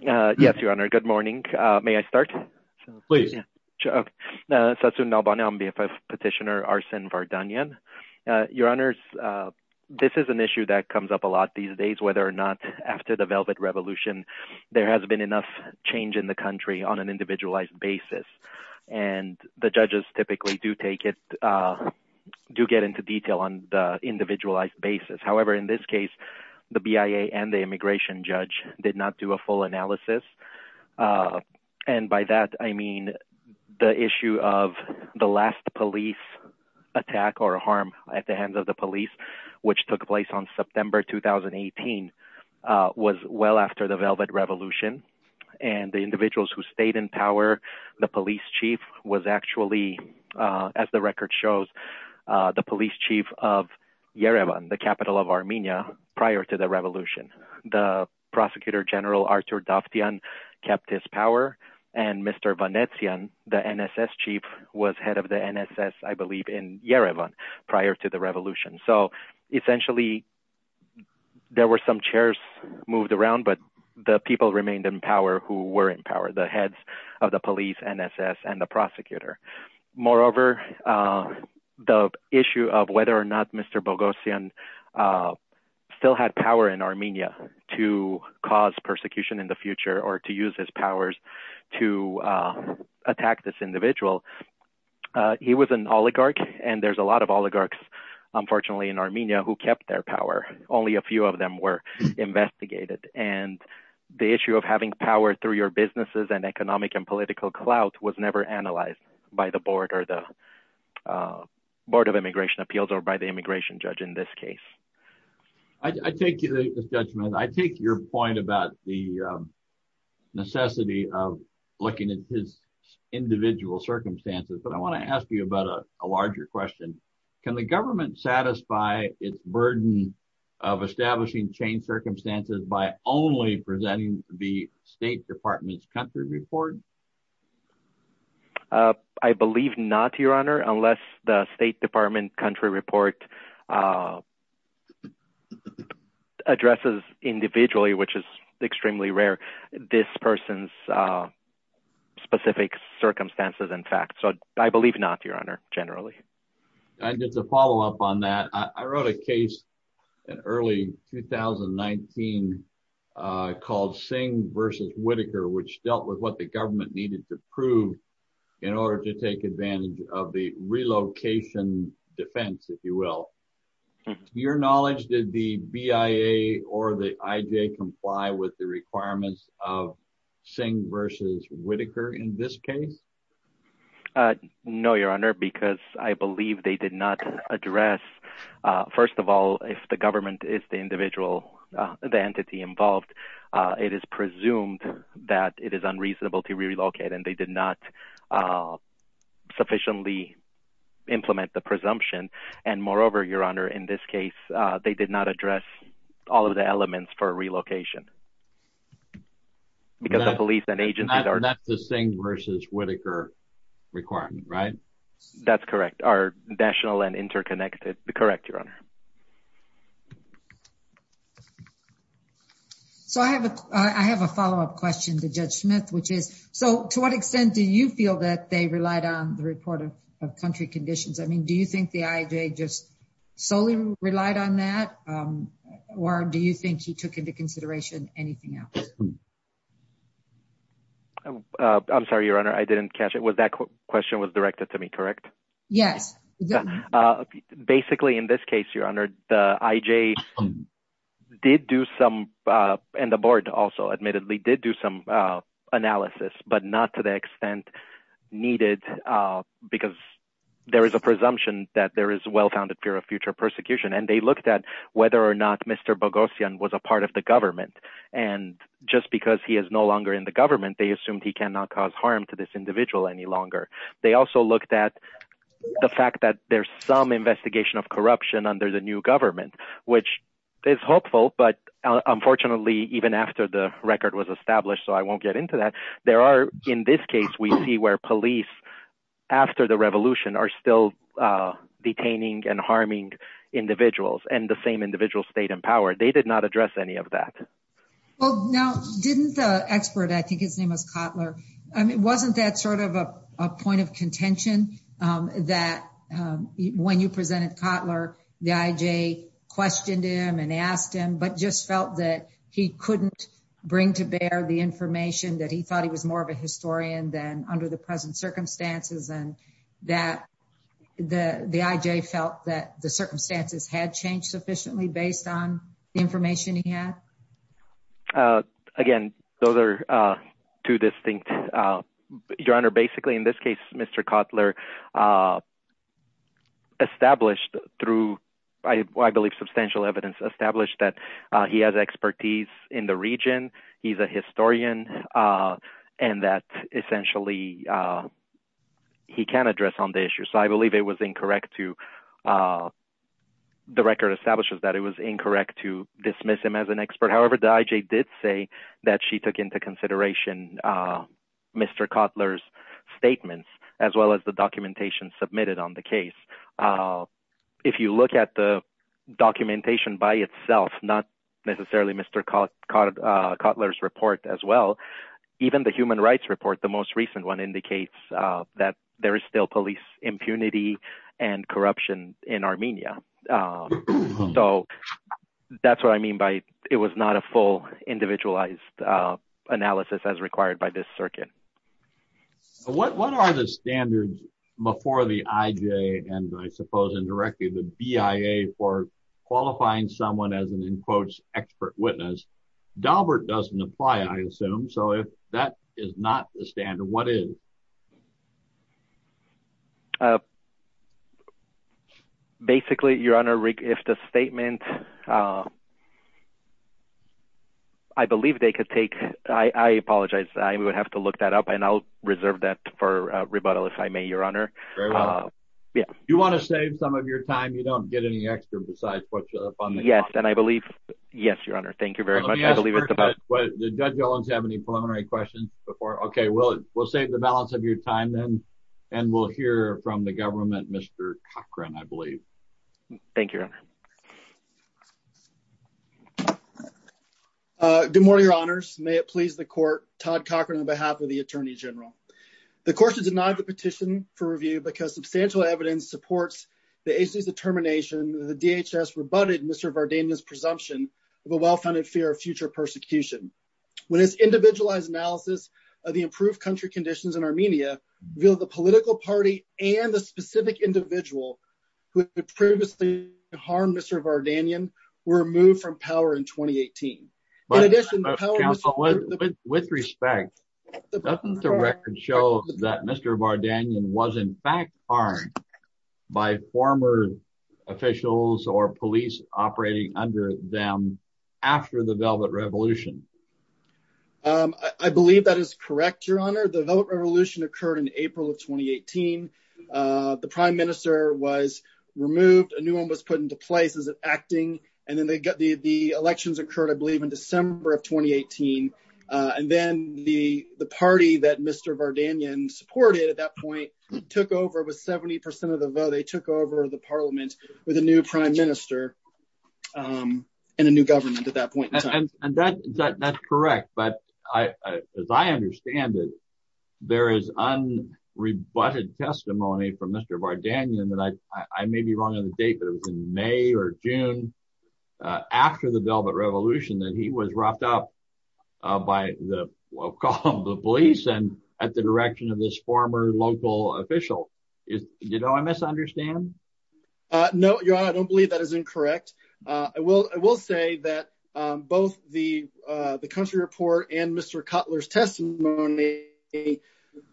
Yes, Your Honor. Good morning. May I start? Please. Okay. Satsun Nalbani. I'm BFF Petitioner Arsen Vardanyan. Your Honors, this is an issue that comes up a lot these days, whether or not after the Velvet Revolution, there has been enough change in the country on an individualized basis. And the judges typically do take it, do get into detail on the individualized basis. However, in this case, the BIA and the immigration judge did not do a full analysis. And by that, I mean the issue of the last police attack or harm at the hands of the police, which took place on September 2018, was well after the Velvet Revolution. And the individuals who stayed in power, the police chief was actually, as the record shows, the police chief of Yerevan, the capital of Armenia, prior to the revolution. The prosecutor general, Artur Dovtyan, kept his power. And Mr. Vanetsian, the NSS chief, was head of the NSS, I believe, in Yerevan prior to the revolution. So essentially, there were some chairs moved around, but the people remained in power who were in power, the heads of the police, NSS, and the prosecutor. Moreover, the issue of whether or not Mr. Boghossian still had power in Armenia to cause persecution in the future or to use his powers to attack this individual, he was an oligarch. And there's a lot of oligarchs, unfortunately, in Armenia who kept their power. Only a few of them were investigated. And the issue of having power through your businesses and economic and political clout was never analyzed by the Board of Immigration Appeals or by the immigration judge in this case. I take your point about the necessity of looking at his individual circumstances, but I want to ask you about a larger question. Can the government satisfy its burden of establishing changed circumstances by only presenting the State Department's country report? I believe not, Your Honor, unless the State Department country report addresses individually, which is extremely rare, this person's specific circumstances and facts. So I believe not, Your Honor, generally. And just to follow up on that, I wrote a case in early 2019 called Singh v. Whitaker, which dealt with what the government needed to prove in order to take advantage of the relocation defense, if you will. To your knowledge, did the BIA or the IJ comply with the requirements of Singh v. Whitaker in this case? No, Your Honor, because I believe they did not address. First of all, if the government is the individual, the entity involved, it is presumed that it is unreasonable to relocate and they did not sufficiently implement the presumption. And moreover, Your Honor, in this case, they did not address all of the elements for relocation. Because the police and agencies are... That's the Singh v. Whitaker requirement, right? That's correct, are national and interconnected. Correct, Your Honor. So I have a follow up question to Judge Smith, which is, so to what extent do you feel that they relied on the report of country conditions? I mean, do you think the IJ just solely relied on that? Or do you think you took into consideration anything else? I'm sorry, Your Honor, I didn't catch it. Was that question was directed to me, correct? Yes. Basically, in this case, Your Honor, the IJ did do some and the board also admittedly did do some analysis, but not to the extent needed because there is a presumption that there is well-founded fear of future persecution. And they looked at whether or not Mr. Boghossian was a part of the government. And just because he is no longer in the government, they assumed he cannot cause harm to this individual any longer. They also looked at the fact that there's some investigation of corruption under the new government, which is hopeful, but unfortunately, even after the record was established, so I won't get into that, there are, in this case, we see where police, after the revolution, are still detaining and harming individuals and the same individuals stayed in power. They did not address any of that. Well, now, didn't the expert, I think his name was Kotler, I mean, wasn't that sort of a point of contention that when you presented Kotler, the IJ questioned him and asked him, but just felt that he couldn't bring to bear the information that he thought he was more of a historian than under the present circumstances and that the IJ felt that the circumstances had changed sufficiently based on the information he had? Again, those are two distinct, Your Honor, basically, in this case, Mr. Kotler established through, I believe, substantial evidence established that he has expertise in the region. He's a historian and that essentially he can address on the issue. So I believe it was incorrect to, the record establishes that it was incorrect to dismiss him as an expert. However, the IJ did say that she took into consideration Mr. Kotler's statements as well as the documentation submitted on the case. If you look at the documentation by itself, not necessarily Mr. Kotler's report as well, even the human rights report, the most recent one indicates that there is still police impunity and corruption in Armenia. So that's what I mean by it was not a full individualized analysis as required by this circuit. What are the standards before the IJ and I suppose indirectly the BIA for qualifying someone as an, in quotes, expert witness? Daubert doesn't apply, I assume. So if that is not the standard, what is? Basically, Your Honor, if the statement, I believe they could take, I apologize. I would have to look that up and I'll reserve that for rebuttal if I may, Your Honor. Do you want to save some of your time? You don't get any extra besides what you're funding. Yes, and I believe. Yes, Your Honor. Thank you very much. I believe it's about the judge. Don't have any preliminary questions before. OK, well, we'll save the balance of your time then. And we'll hear from the government, Mr. Cochran, I believe. Thank you. Good morning, Your Honors. May it please the court. Todd Cochran on behalf of the attorney general. The court has denied the petition for review because substantial evidence supports the determination. The DHS rebutted Mr. Vardanyan's presumption of a well-founded fear of future persecution. When it's individualized analysis of the improved country conditions in Armenia, the political party and the specific individual who previously harmed Mr. Vardanyan were removed from power in 2018. With respect, doesn't the record show that Mr. Vardanyan was in fact harmed by former officials or police operating under them after the Velvet Revolution? I believe that is correct, Your Honor. The Velvet Revolution occurred in April of 2018. The prime minister was removed. A new one was put into place as an acting. And then the elections occurred, I believe, in December of 2018. And then the party that Mr. Vardanyan supported at that point took over with 70% of the vote. They took over the parliament with a new prime minister and a new government at that point. And that's correct. But as I understand it, there is unrebutted testimony from Mr. Vardanyan that I may be wrong on the date, but it was in May or June after the Velvet Revolution that he was wrapped up by the police and at the direction of this former local official. Do you know I misunderstand? No, Your Honor, I don't believe that is incorrect. I will say that both the country report and Mr. Cutler's testimony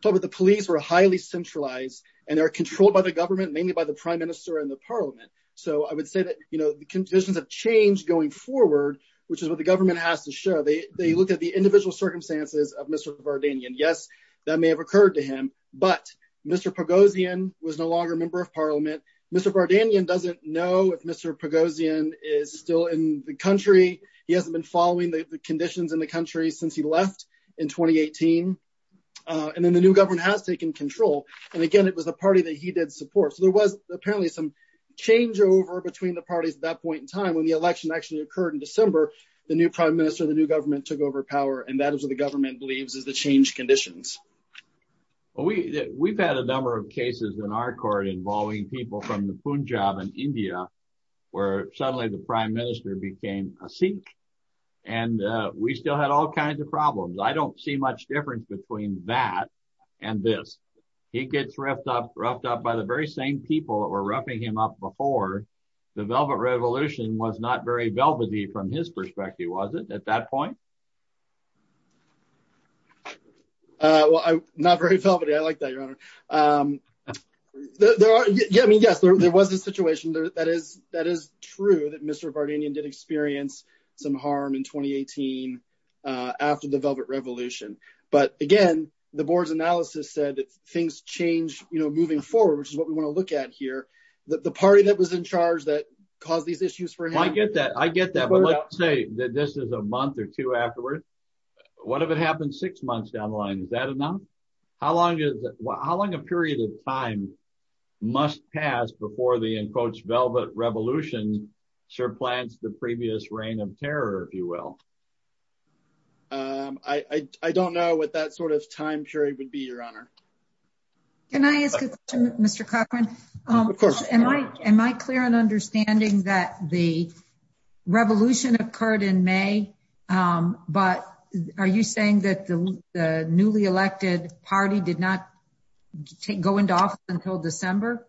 told that the police were highly centralized and they were controlled by the government, mainly by the prime minister and the parliament. So I would say that the conditions have changed going forward, which is what the government has to show. They looked at the individual circumstances of Mr. Vardanyan. Yes, that may have occurred to him, but Mr. Pugosian was no longer a member of parliament. Mr. Vardanyan doesn't know if Mr. Pugosian is still in the country. He hasn't been following the conditions in the country since he left in 2018. And then the new government has taken control. And again, it was a party that he did support. So there was apparently some changeover between the parties at that point in time when the election actually occurred in December. The new prime minister, the new government took over power, and that is what the government believes is the changed conditions. We've had a number of cases in our court involving people from the Punjab in India, where suddenly the prime minister became a Sikh. And we still had all kinds of problems. I don't see much difference between that and this. He gets roughed up by the very same people that were roughing him up before. The Velvet Revolution was not very velvety from his perspective, was it, at that point? Not very velvety. I like that, Your Honor. I mean, yes, there was a situation. That is true that Mr. Vardanyan did experience some harm in 2018 after the Velvet Revolution. But again, the board's analysis said that things changed moving forward, which is what we want to look at here. The party that was in charge that caused these issues for him. I get that. But let's say that this is a month or two afterwards. What if it happened six months down the line? Is that enough? How long a period of time must pass before the, in quotes, Velvet Revolution surplants the previous reign of terror, if you will? I don't know what that sort of time period would be, Your Honor. Can I ask a question, Mr. Cochran? Of course. Am I clear in understanding that the revolution occurred in May, but are you saying that the newly elected party did not go into office until December?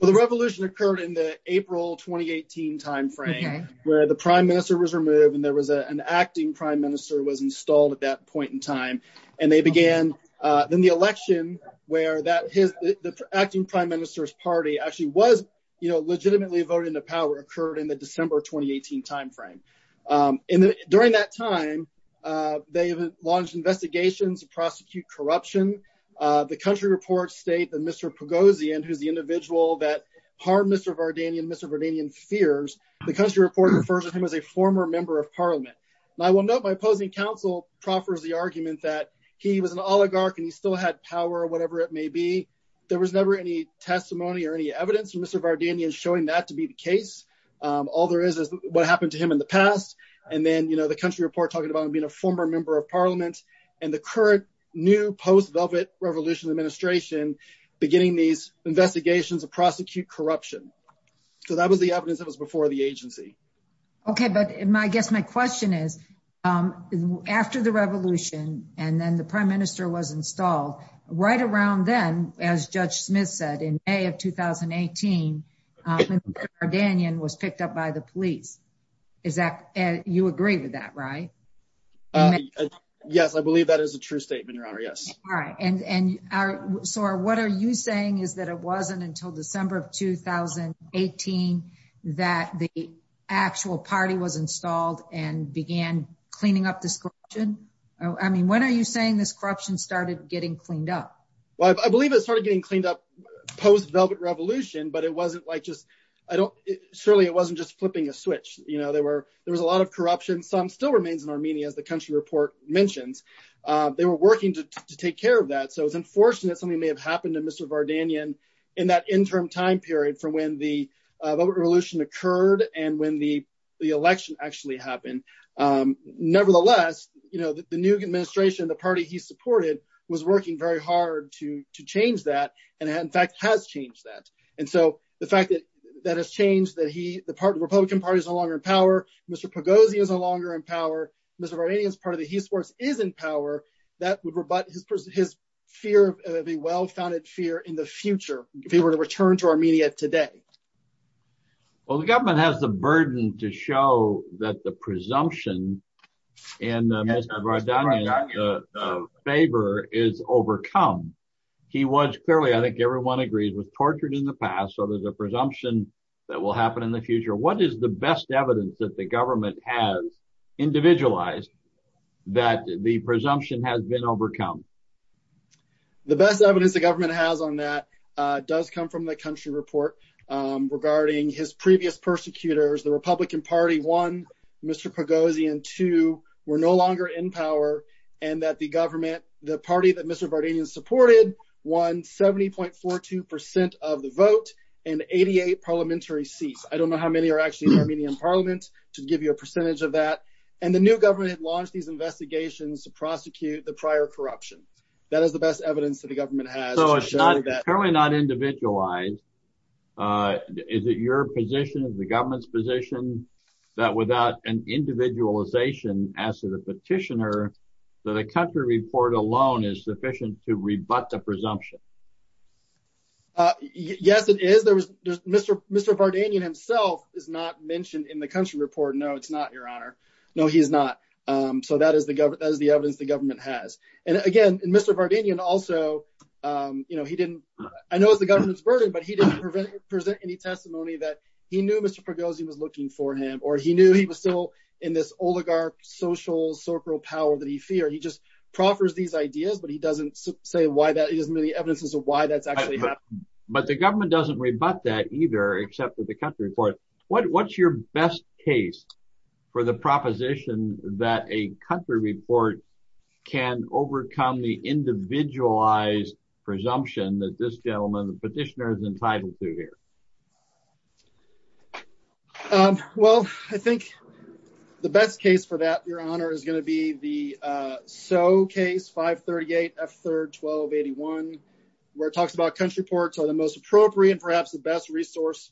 Well, the revolution occurred in the April 2018 timeframe where the prime minister was removed and there was an acting prime minister who was installed at that point in time. Then the election, where the acting prime minister's party actually was legitimately voted into power, occurred in the December 2018 timeframe. During that time, they launched investigations to prosecute corruption. The country reports state that Mr. Pugosian, who's the individual that harmed Mr. Vardanyan and Mr. Vardanyan's fears, the country report refers to him as a former member of parliament. I will note my opposing counsel proffers the argument that he was an oligarch and he still had power, whatever it may be. There was never any testimony or any evidence of Mr. Vardanyan showing that to be the case. All there is is what happened to him in the past. And then, you know, the country report talking about him being a former member of parliament and the current new post Velvet Revolution administration beginning these investigations to prosecute corruption. So that was the evidence that was before the agency. OK, but I guess my question is, after the revolution and then the prime minister was installed right around then, as Judge Smith said in May of 2018, Mr. Vardanyan was picked up by the police. Is that you agree with that, right? Yes, I believe that is a true statement, Your Honor. Yes. All right. And so what are you saying is that it wasn't until December of 2018 that the actual party was installed and began cleaning up this corruption? I mean, when are you saying this corruption started getting cleaned up? Well, I believe it started getting cleaned up post Velvet Revolution, but it wasn't like just I don't surely it wasn't just flipping a switch. You know, there were there was a lot of corruption. Some still remains in Armenia, as the country report mentions. They were working to take care of that. So it's unfortunate something may have happened to Mr. Vardanyan in that interim time period from when the revolution occurred and when the election actually happened. Nevertheless, you know, the new administration, the party he supported was working very hard to to change that and in fact has changed that. And so the fact that that has changed, that he the Republican Party is no longer in power. Mr. Pogosian is no longer in power. Mr. Vardanyan is part of the Heist Force is in power. That would rebut his fear of a well-founded fear in the future, if he were to return to Armenia today. Well, the government has the burden to show that the presumption in Mr. Vardanyan's favor is overcome. He was clearly, I think everyone agrees, was tortured in the past. So there's a presumption that will happen in the future. What is the best evidence that the government has individualized that the presumption has been overcome? The best evidence the government has on that does come from the country report regarding his previous persecutors, the Republican Party. One, Mr. Pogosian. Two, we're no longer in power and that the government, the party that Mr. Vardanyan supported, won 70.42 percent of the vote and 88 parliamentary seats. I don't know how many are actually in Armenian parliament, to give you a percentage of that. And the new government had launched these investigations to prosecute the prior corruption. That is the best evidence that the government has. So it's apparently not individualized. Is it your position, the government's position, that without an individualization as to the petitioner, that a country report alone is sufficient to rebut the presumption? Yes, it is. Mr. Vardanyan himself is not mentioned in the country report. No, it's not, Your Honor. No, he's not. So that is the evidence the government has. And again, Mr. Vardanyan also, I know it's the government's burden, but he didn't present any testimony that he knew Mr. Pogosian was looking for him. Or he knew he was still in this oligarch social circle power that he feared. He just proffers these ideas, but he doesn't say why that is, many evidences of why that's actually happening. But the government doesn't rebut that either, except with the country report. What's your best case for the proposition that a country report can overcome the individualized presumption that this gentleman, the petitioner, is entitled to here? Well, I think the best case for that, Your Honor, is going to be the Soe case, 538 F. 3rd, 1281, where it talks about country reports are the most appropriate, perhaps the best resource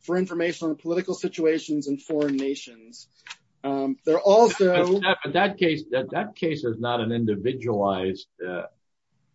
for information on political situations in foreign nations. But that case is not an individualized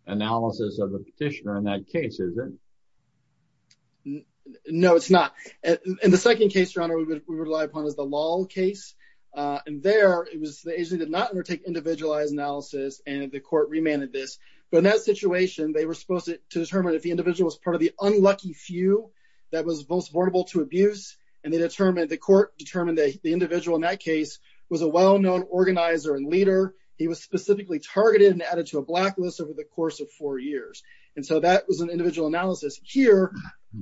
analysis of the petitioner in that case, is it? No, it's not. And the second case, Your Honor, we would rely upon is the Lal case. And there, it was the agency did not undertake individualized analysis, and the court remanded this. But in that situation, they were supposed to determine if the individual was part of the unlucky few that was most vulnerable to abuse. And they determined, the court determined that the individual in that case was a well-known organizer and leader. He was specifically targeted and added to a blacklist over the course of four years. And so that was an individual analysis. Here,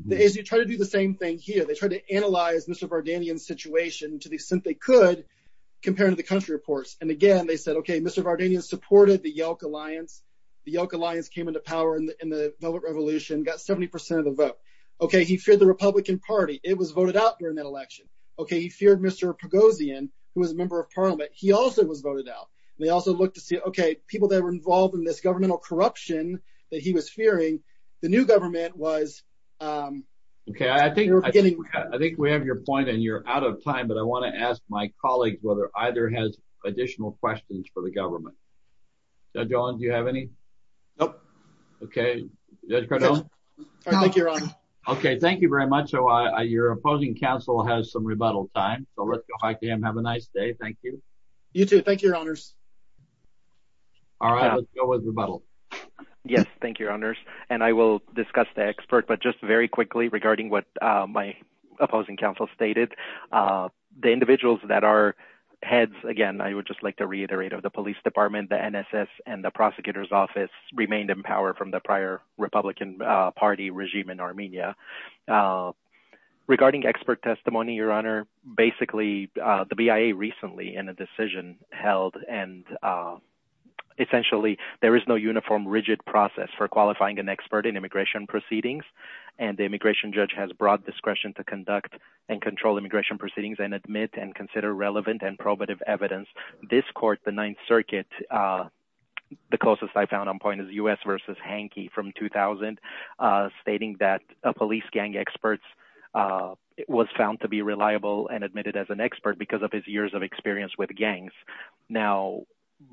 the agency tried to do the same thing here. They tried to analyze Mr. Vardanyan's situation to the extent they could compare to the country reports. And again, they said, OK, Mr. Vardanyan supported the Yelk Alliance. The Yelk Alliance came into power in the Velvet Revolution, got 70 percent of the vote. OK, he feared the Republican Party. It was voted out during that election. OK, he feared Mr. Pugosian, who was a member of Parliament. He also was voted out. And they also looked to see, OK, people that were involved in this governmental corruption that he was fearing, the new government was— OK, I think we have your point, and you're out of time, but I want to ask my colleagues whether either has additional questions for the government. Judge Olin, do you have any? Nope. OK, Judge Cardone? I think you're on. OK, thank you very much. Your opposing counsel has some rebuttal time, so let's go back to him. Have a nice day. Thank you. You too. Thank you, Your Honors. All right, let's go with rebuttal. Yes, thank you, Your Honors. And I will discuss the expert, but just very quickly regarding what my opposing counsel stated. The individuals that are heads, again, I would just like to reiterate of the police department, the NSS, and the prosecutor's office remained in power from the prior Republican Party regime in Armenia. Regarding expert testimony, Your Honor, basically the BIA recently in a decision held, and essentially there is no uniform rigid process for qualifying an expert in immigration proceedings. And the immigration judge has broad discretion to conduct and control immigration proceedings and admit and consider relevant and probative evidence. This court, the Ninth Circuit, the closest I found on point is U.S. v. Hanke from 2000, stating that a police gang expert was found to be reliable and admitted as an expert because of his years of experience with gangs. Now,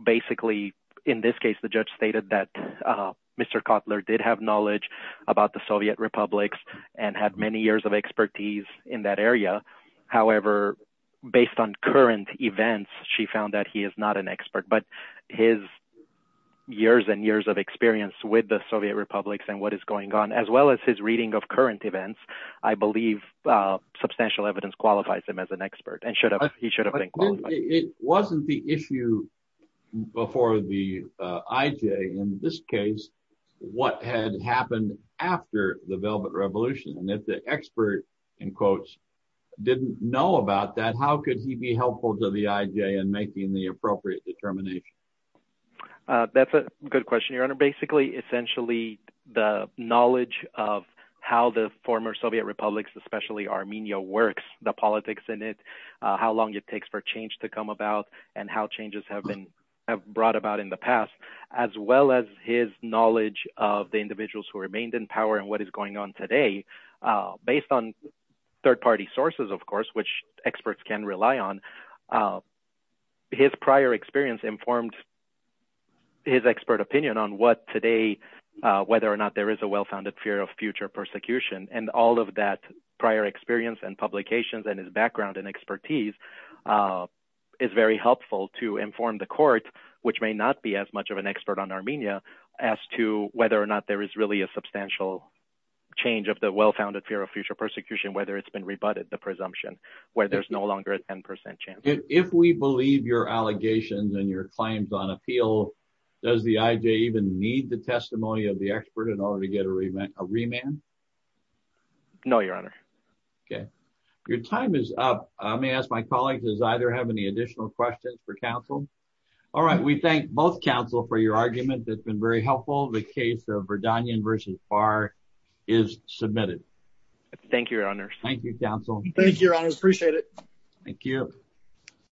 basically in this case, the judge stated that Mr. Kotler did have knowledge about the Soviet republics and had many years of expertise in that area. However, based on current events, she found that he is not an expert, but his years and years of experience with the Soviet republics and what is going on, as well as his reading of current events, I believe substantial evidence qualifies him as an expert and he should have been qualified. It wasn't the issue before the IJ in this case, what had happened after the Velvet Revolution, and if the expert, in quotes, didn't know about that, how could he be helpful to the IJ in making the appropriate determination? That's a good question, Your Honor. Basically, essentially the knowledge of how the former Soviet republics, especially Armenia, works, the politics in it, how long it takes for change to come about, and how changes have been brought about in the past, as well as his knowledge of the individuals who remained in power and what is going on today, based on third-party sources, of course, which experts can rely on. His prior experience informed his expert opinion on what today, whether or not there is a well-founded fear of future persecution, and all of that prior experience and publications and his background and expertise is very helpful to inform the court, which may not be as much of an expert on Armenia, as to whether or not there is really a substantial change of the well-founded fear of future persecution, whether it's been rebutted, the presumption, where there's no longer a 10% chance. If we believe your allegations and your claims on appeal, does the IJ even need the testimony of the expert in order to get a remand? No, Your Honor. Okay. Your time is up. May I ask my colleagues, does either have any additional questions for counsel? All right. We thank both counsel for your argument. It's been very helpful. The case of Verdanyan v. Barr is submitted. Thank you, Your Honor. Thank you, counsel. Thank you, Your Honor. Appreciate it. Thank you.